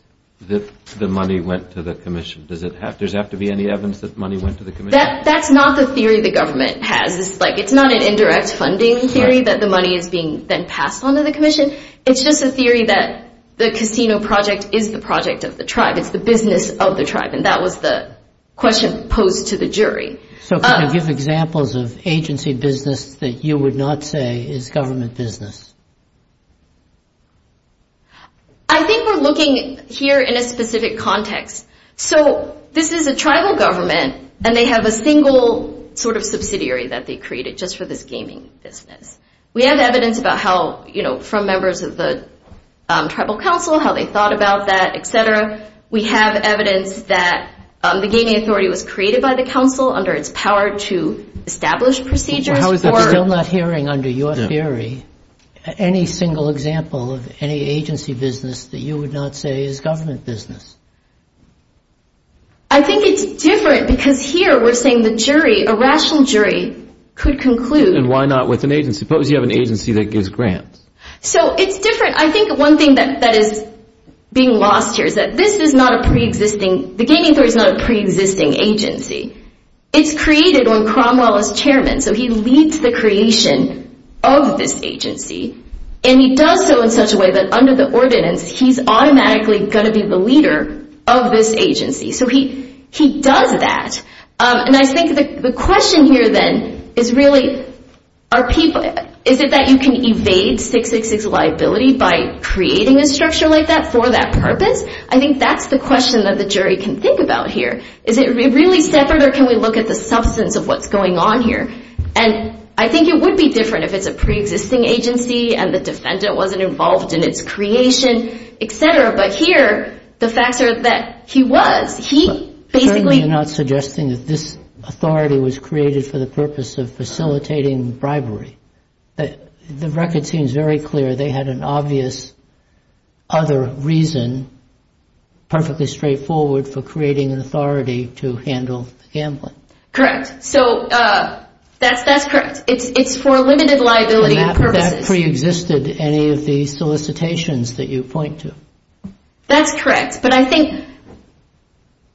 that the money went to the commission? Does it have to be any evidence that money went to the commission? That's not the theory the government has. It's not an indirect funding theory that the money is being then passed on to the commission. It's just a theory that the casino project is the project of the tribe. It's the business of the tribe, and that was the question posed to the jury. So can you give examples of agency business that you would not say is government business? I think we're looking here in a specific context. So this is a tribal government, and they have a single sort of subsidiary that they created just for this gaming business. We have evidence about how, you know, from members of the tribal council, how they thought about that, et cetera. We have evidence that the gaming authority was created by the council under its power to establish procedures. I'm still not hearing under your theory any single example of any agency business that you would not say is government business. I think it's different because here we're saying the jury, a rational jury, could conclude. And why not with an agency? Suppose you have an agency that gives grants. So it's different. I think one thing that is being lost here is that this is not a preexisting, the gaming authority is not a preexisting agency. It's created when Cromwell is chairman. So he leads the creation of this agency. And he does so in such a way that under the ordinance, he's automatically going to be the leader of this agency. So he does that. And I think the question here then is really, is it that you can evade 666 liability by creating a structure like that for that purpose? I think that's the question that the jury can think about here. Is it really separate or can we look at the substance of what's going on here? And I think it would be different if it's a preexisting agency and the defendant wasn't involved in its creation, et cetera. But here the facts are that he was. He basically — You're not suggesting that this authority was created for the purpose of facilitating bribery. The record seems very clear. They had an obvious other reason, perfectly straightforward, for creating an authority to handle gambling. Correct. So that's correct. It's for limited liability purposes. And that preexisted any of the solicitations that you point to. That's correct. But I think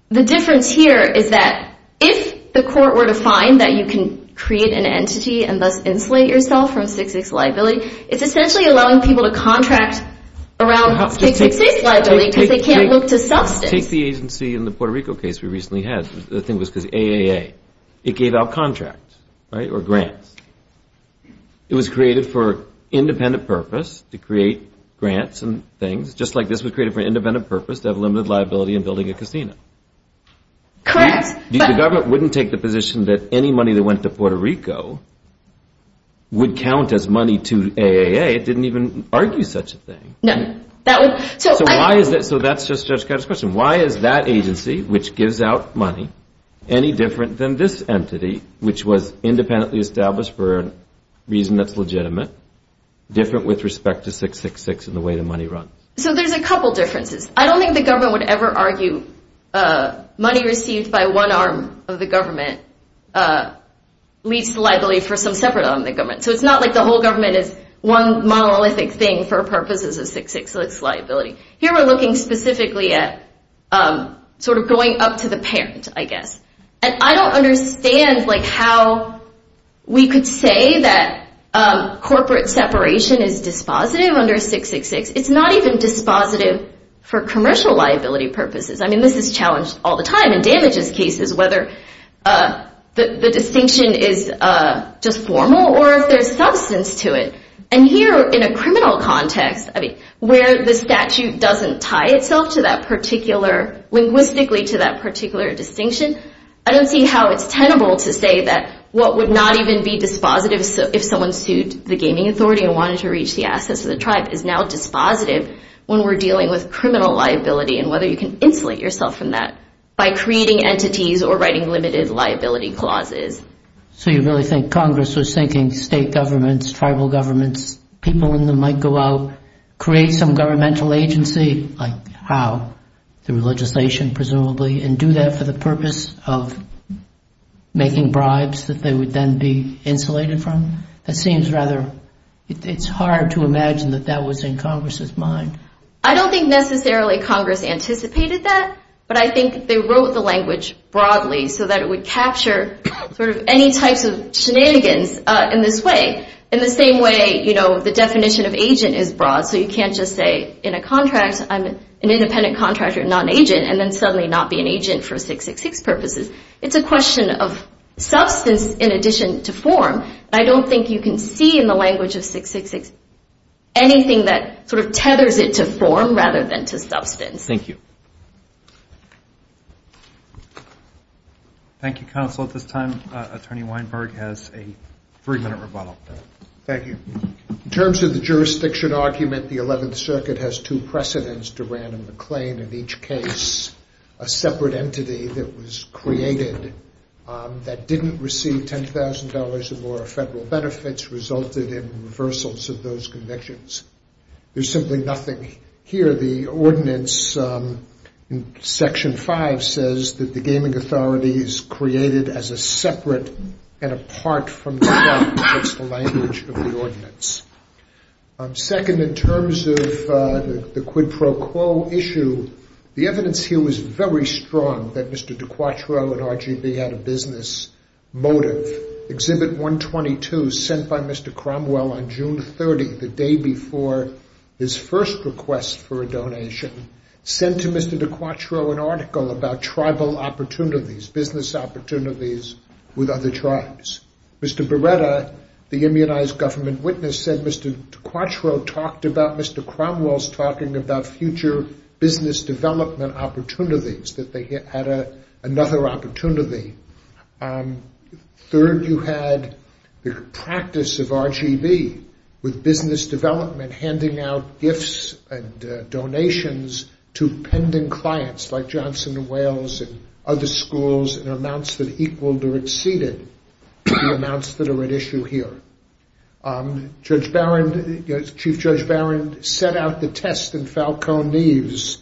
the difference here is that if the court were to find that you can create an entity and thus insulate yourself from 666 liability, it's essentially allowing people to contract around 666 liability because they can't look to substance. Take the agency in the Puerto Rico case we recently had. The thing was because of the AAA. It gave out contracts, right, or grants. It was created for independent purpose to create grants and things, just like this was created for independent purpose to have limited liability in building a casino. Correct. The government wouldn't take the position that any money that went to Puerto Rico would count as money to AAA. It didn't even argue such a thing. No. So why is that? So that's just Judge Gatto's question. Why is that agency, which gives out money, any different than this entity, which was independently established for a reason that's legitimate, different with respect to 666 and the way the money runs? So there's a couple differences. I don't think the government would ever argue money received by one arm of the government leads to liability for some separate arm of the government. So it's not like the whole government is one monolithic thing for purposes of 666 liability. Here we're looking specifically at sort of going up to the parent, I guess. And I don't understand how we could say that corporate separation is dispositive under 666. It's not even dispositive for commercial liability purposes. I mean, this is challenged all the time in damages cases, whether the distinction is just formal or if there's substance to it. And here in a criminal context, I mean, where the statute doesn't tie itself to that particular, linguistically to that particular distinction, I don't see how it's tenable to say that what would not even be dispositive if someone sued the gaming authority and wanted to reach the assets of the tribe is now dispositive when we're dealing with criminal liability and whether you can insulate yourself from that by creating entities or writing limited liability clauses. So you really think Congress was thinking state governments, tribal governments, people in them might go out, create some governmental agency, like how? Through legislation, presumably, and do that for the purpose of making bribes that they would then be insulated from? That seems rather, it's hard to imagine that that was in Congress's mind. I don't think necessarily Congress anticipated that, but I think they wrote the language broadly so that it would capture sort of any types of shenanigans in this way. In the same way, you know, the definition of agent is broad, so you can't just say in a contract I'm an independent contractor, not an agent, and then suddenly not be an agent for 666 purposes. It's a question of substance in addition to form. I don't think you can see in the language of 666 anything that sort of tethers it to form rather than to substance. Thank you. Thank you, Counsel. At this time, Attorney Weinberg has a three-minute rebuttal. Thank you. In terms of the jurisdiction argument, the 11th Circuit has two precedents to random acclaim in each case, a separate entity that was created that didn't receive $10,000 or federal benefits resulted in reversals of those convictions. There's simply nothing here. The ordinance in Section 5 says that the gaming authority is created as a separate and apart from the law. That's the language of the ordinance. Second, in terms of the quid pro quo issue, the evidence here was very strong that Mr. DiQuatro and RGB had a business motive. Exhibit 122 sent by Mr. Cromwell on June 30, the day before his first request for a donation, sent to Mr. DiQuatro an article about tribal opportunities, business opportunities with other tribes. Mr. Beretta, the immunized government witness, said Mr. DiQuatro talked about Mr. Cromwell's talking about future business development opportunities, that they had another opportunity. Third, you had the practice of RGB with business development, handing out gifts and donations to pending clients like Johnson & Wales and other schools in amounts that equaled or exceeded the amounts that are at issue here. Chief Judge Barron set out the test in Falcone Neves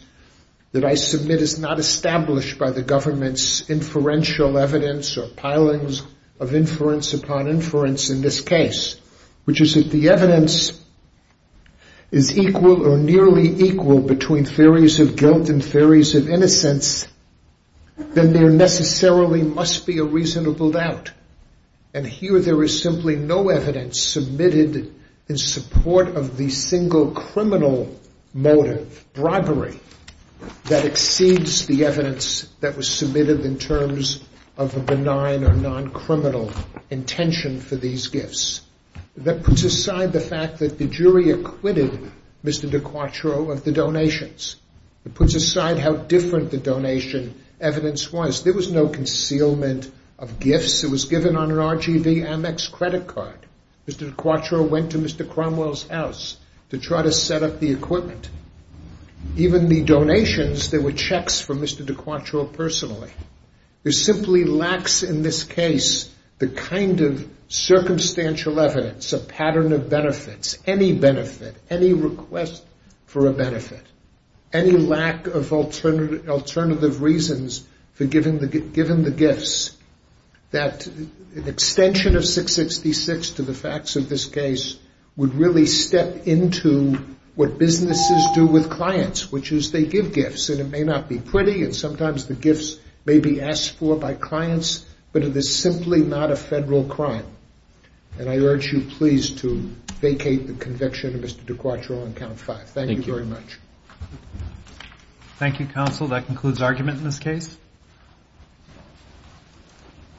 that I submit is not established by the government's inferential evidence or pilings of inference upon inference in this case, which is if the evidence is equal or nearly equal between theories of guilt and theories of innocence, then there necessarily must be a reasonable doubt. And here there is simply no evidence submitted in support of the single criminal motive, bribery, that exceeds the evidence that was submitted in terms of a benign or non-criminal intention for these gifts. That puts aside the fact that the jury acquitted Mr. DiQuatro of the donations. It puts aside how different the donation evidence was. There was no concealment of gifts. It was given on an RGB Amex credit card. Mr. DiQuatro went to Mr. Cromwell's house to try to set up the equipment. Even the donations, there were checks from Mr. DiQuatro personally. There simply lacks in this case the kind of circumstantial evidence, a pattern of benefits, any benefit, any request for a benefit, any lack of alternative reasons for giving the gifts, that an extension of 666 to the facts of this case would really step into what businesses do with clients, which is they give gifts, and it may not be pretty, and sometimes the gifts may be asked for by clients, but it is simply not a federal crime. And I urge you please to vacate the conviction of Mr. DiQuatro on count five. Thank you very much. Thank you, counsel. That concludes argument in this case.